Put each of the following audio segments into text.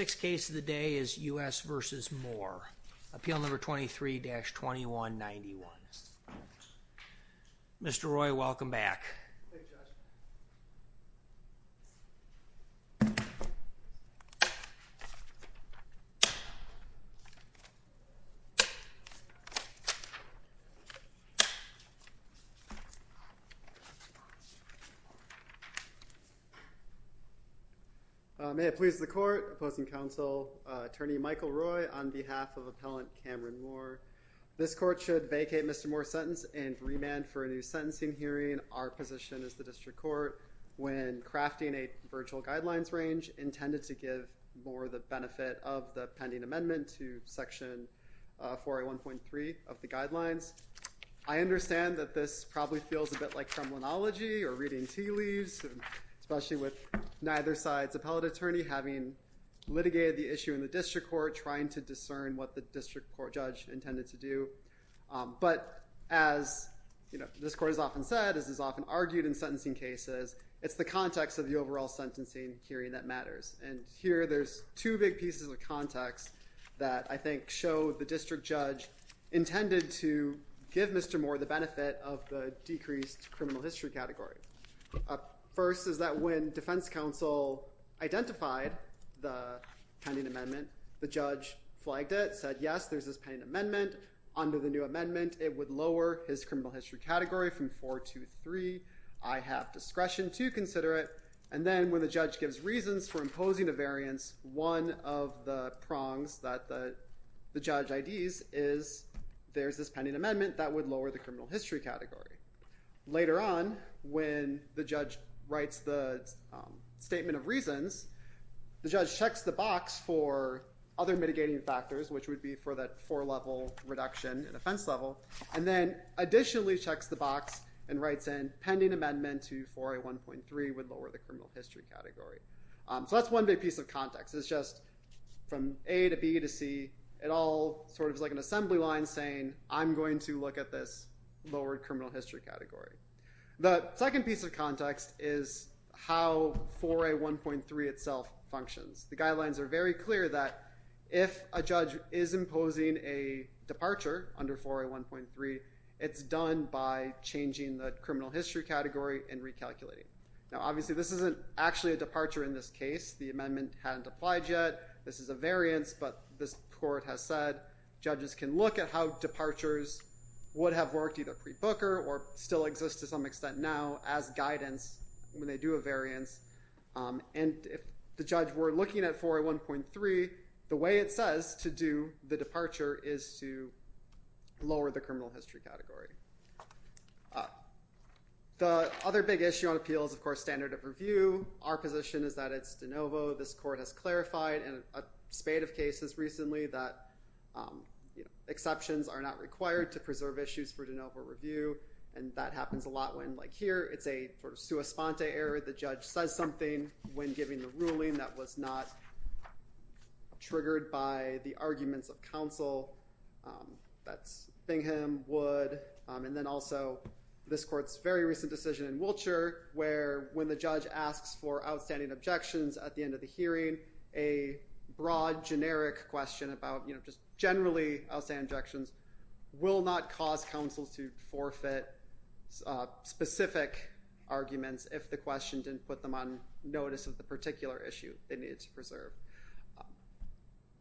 Sixth case of the day is U.S. v. Moore. Appeal number 23-2191. Mr. Roy, welcome back. Thank you, Judge. May it please the Court, Opposing Counsel, Attorney Michael Roy on behalf of Appellant Cameron Moore. This Court should vacate Mr. Moore's sentence and remand for a new sentencing hearing. Mr. Roy, you are excused from the hearing. Thank you. Thank you. Thank you. But as this court has often said, this is often argued in sentencing cases. It's the context of the overall sentencing hearing that matters. And here there's two big pieces of context that I think show the District Judge, intended to give Mr. Moore the benefit of the decreased criminal history category. First is that when Defense Counsel identified the pending amendment, the Judge flagged it, said yes, there's this pending amendment, under the new amendment it would lower his criminal history category from 4 to 3, I have discretion to consider it. And then when the Judge gives reasons for imposing a variance, one of the prongs that the Judge IDs is there's this pending amendment that would lower the criminal history category. Later on, when the Judge writes the statement of reasons, the Judge checks the box for other mitigating factors, which would be for that four-level reduction in offense level, and then additionally checks the box and writes in, pending amendment to 4A1.3 would lower the criminal history category. So that's one big piece of context. It's just from A to B to C, it all sort of is like an assembly line saying, I'm going to look at this lowered criminal history category. The second piece of context is how 4A1.3 itself functions. The guidelines are very clear that if a Judge is imposing a departure under 4A1.3, it's done by changing the criminal history category and recalculating. Now obviously this isn't actually a departure in this case. The amendment hadn't applied yet, this is a variance, but this Court has said Judges can look at how departures would have worked either pre-Booker or still exist to some extent now as guidance when they do a variance. And if the Judge were looking at 4A1.3, the way it says to do the departure is to lower the criminal history category. The other big issue on appeal is of course standard of review. Our position is that it's de novo. This Court has clarified in a spate of cases recently that exceptions are not required to preserve issues for de novo review, and that happens a lot when like here it's a sort of a sponte area. The Judge says something when giving the ruling that was not triggered by the arguments of counsel, that's Bingham, Wood, and then also this Court's very recent decision in Wiltshire where when the Judge asks for outstanding objections at the end of the hearing, a broad generic question about just generally outstanding objections will not cause counsels to forfeit specific arguments if the question didn't put them on notice of the particular issue they needed to preserve.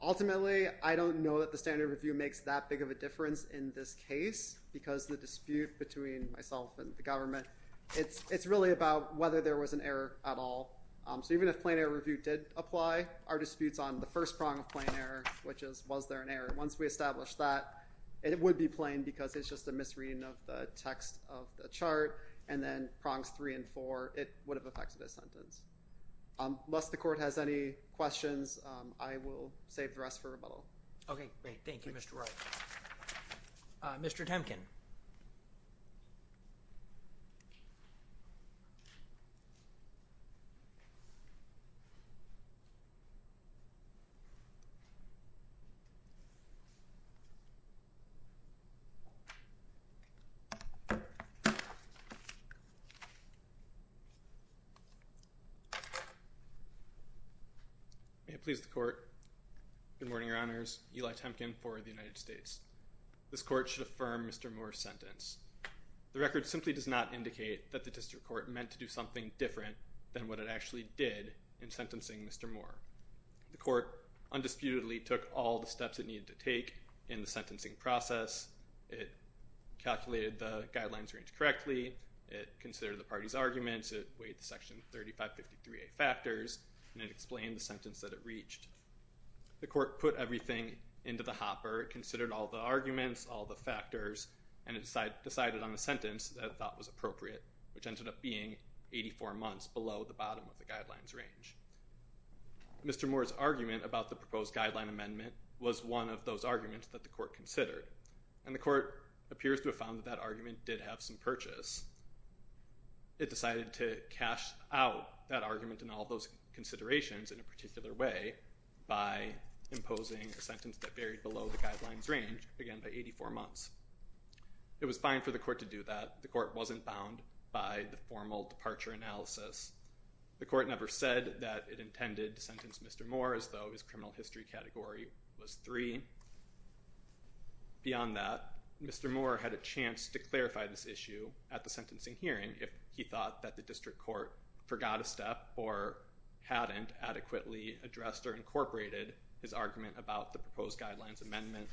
Ultimately I don't know that the standard of review makes that big of a difference in this case because the dispute between myself and the government, it's really about whether there was an error at all. So even if plain error review did apply, our disputes on the first prong of plain error, which is was there an error, once we establish that it would be plain because it's just a misreading of the text of the chart, and then prongs three and four, it would have affected the sentence. Unless the Court has any questions, I will save the rest for rebuttal. Okay, great. Thank you, Mr. Wright. Mr. Temkin. May it please the Court, good morning, Your Honors, Eli Temkin for the United States. This Court should affirm Mr. Moore's sentence. The record simply does not indicate that the District Court meant to do something different than what it actually did in sentencing Mr. Moore. The Court undisputedly took all the steps it needed to take in the sentencing process. It calculated the guidelines range correctly, it considered the party's arguments, it weighed the Section 3553A factors, and it explained the sentence that it reached. The Court put everything into the hopper, considered all the arguments, all the factors, and it decided on a sentence that it thought was appropriate, which ended up being 84 months below the bottom of the guidelines range. Mr. Moore's argument about the proposed guideline amendment was one of those arguments that the Court considered, and the Court appears to have found that that argument did have some purchase. It decided to cash out that argument and all those considerations in a particular way by imposing a sentence that varied below the guidelines range, again by 84 months. It was fine for the Court to do that. The Court wasn't bound by the formal departure analysis. The Court never said that it intended to sentence Mr. Moore as though his criminal history category was 3. Beyond that, Mr. Moore had a chance to clarify this issue at the sentencing hearing if he thought that the District Court forgot a step or hadn't adequately addressed or incorporated his argument about the proposed guidelines amendment.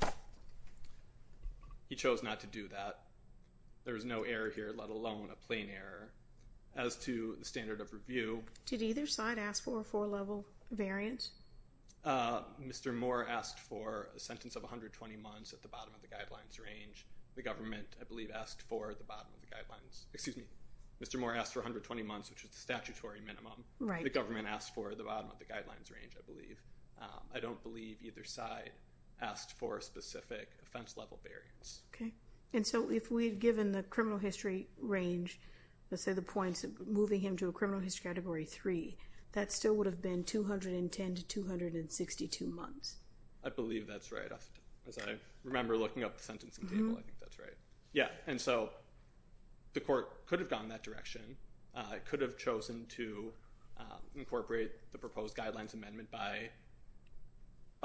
He chose not to do that. There was no error here, let alone a plain error. As to the standard of review... Did either side ask for a four-level variant? Mr. Moore asked for a sentence of 120 months at the bottom of the guidelines range. The government, I believe, asked for the bottom of the guidelines... Excuse me. Mr. Moore asked for 120 months, which is the statutory minimum. The government asked for the bottom of the guidelines range, I believe. I don't believe either side asked for a specific offense-level variance. And so if we'd given the criminal history range, let's say the points of moving him to a criminal history category 3, that still would have been 210 to 262 months. I believe that's right. As I remember looking up the sentencing table, I think that's right. Yeah. And so the court could have gone that direction, could have chosen to incorporate the proposed guidelines amendment by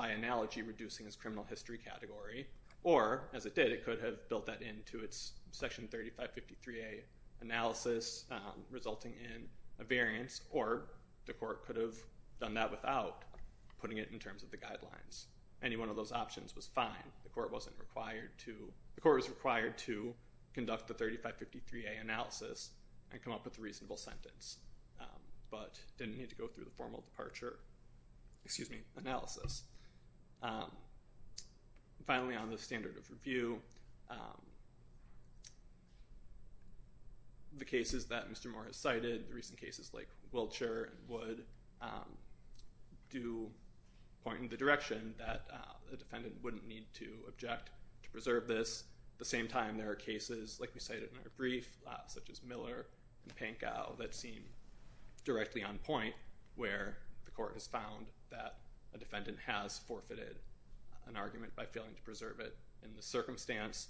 analogy reducing his criminal history category, or as it did, it could have built that into its Section 3553A analysis, resulting in a variance, or the court could have done that without putting it in terms of the guidelines. Any one of those options was fine. The court wasn't required to... The court was required to conduct the 3553A analysis and come up with a reasonable sentence, but didn't need to go through the formal departure, excuse me, analysis. Finally, on the standard of review, the cases that Mr. Moore has cited, the recent cases like Wiltshire and Wood, do point in the direction that a defendant wouldn't need to object to preserve this. At the same time, there are cases, like we cited in our brief, such as Miller and Pankow, that seem directly on point, where the court has found that a defendant has forfeited an argument by failing to preserve it in the circumstance,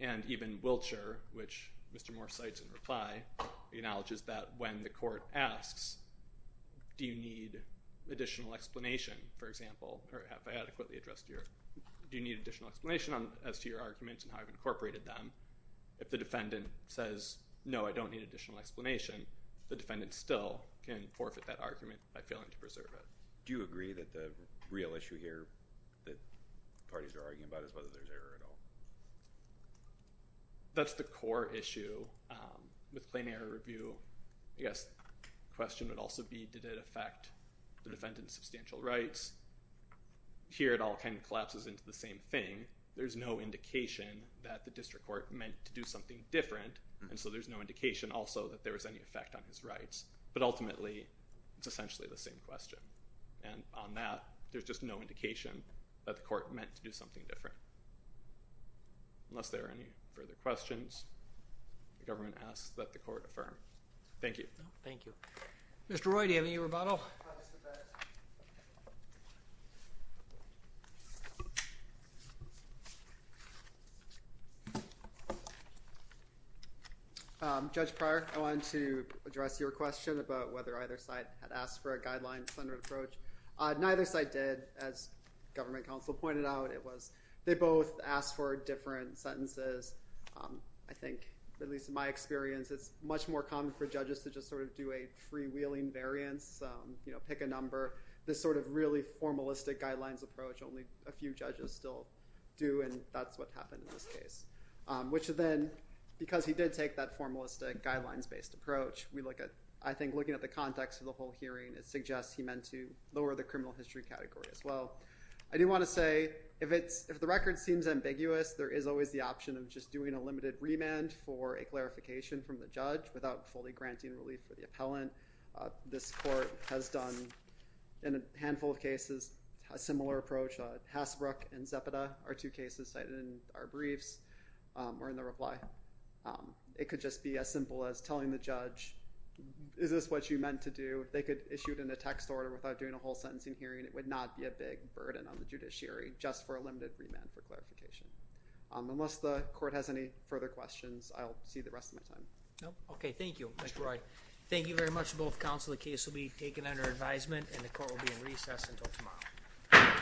and even Wiltshire, which Mr. Moore cites in reply, acknowledges that when the court asks, do you need additional explanation, for example, or have I adequately addressed your... Do you need additional explanation as to your arguments and how I've incorporated them? If the defendant says, no, I don't need additional explanation, the defendant still can forfeit that argument by failing to preserve it. Do you agree that the real issue here that parties are arguing about is whether there's error at all? That's the core issue with claim error review. I guess the question would also be, did it affect the defendant's substantial rights? Here it all kind of collapses into the same thing. There's no indication that the district court meant to do something different, and so there's no indication also that there was any effect on his rights. But ultimately, it's essentially the same question. And on that, there's just no indication that the court meant to do something different. Unless there are any further questions, the government asks that the court affirm. Thank you. Thank you. Mr. Roy, do you have any rebuttal? I'll just sit back. Judge Pryor, I wanted to address your question about whether either side had asked for a guideline-centered approach. Neither side did. As government counsel pointed out, they both asked for different sentences. I think, at least in my experience, it's much more common for judges to just sort of do a freewheeling variance, pick a number, this sort of really formalistic guidelines approach only a few judges still do, and that's what happened in this case, which then, because he did take that formalistic guidelines-based approach, I think looking at the context of the whole hearing, it suggests he meant to lower the criminal history category as well. I do want to say, if the record seems ambiguous, there is always the option of just doing a This court has done, in a handful of cases, a similar approach. Hasbrook and Zepeda are two cases cited in our briefs or in the reply. It could just be as simple as telling the judge, is this what you meant to do? They could issue it in a text order without doing a whole sentencing hearing. It would not be a big burden on the judiciary just for a limited remand for clarification. Unless the court has any further questions, I'll see the rest of my time. Okay. Thank you. Mr. Roy. Thank you very much to both counsel. The case will be taken under advisement and the court will be in recess until tomorrow.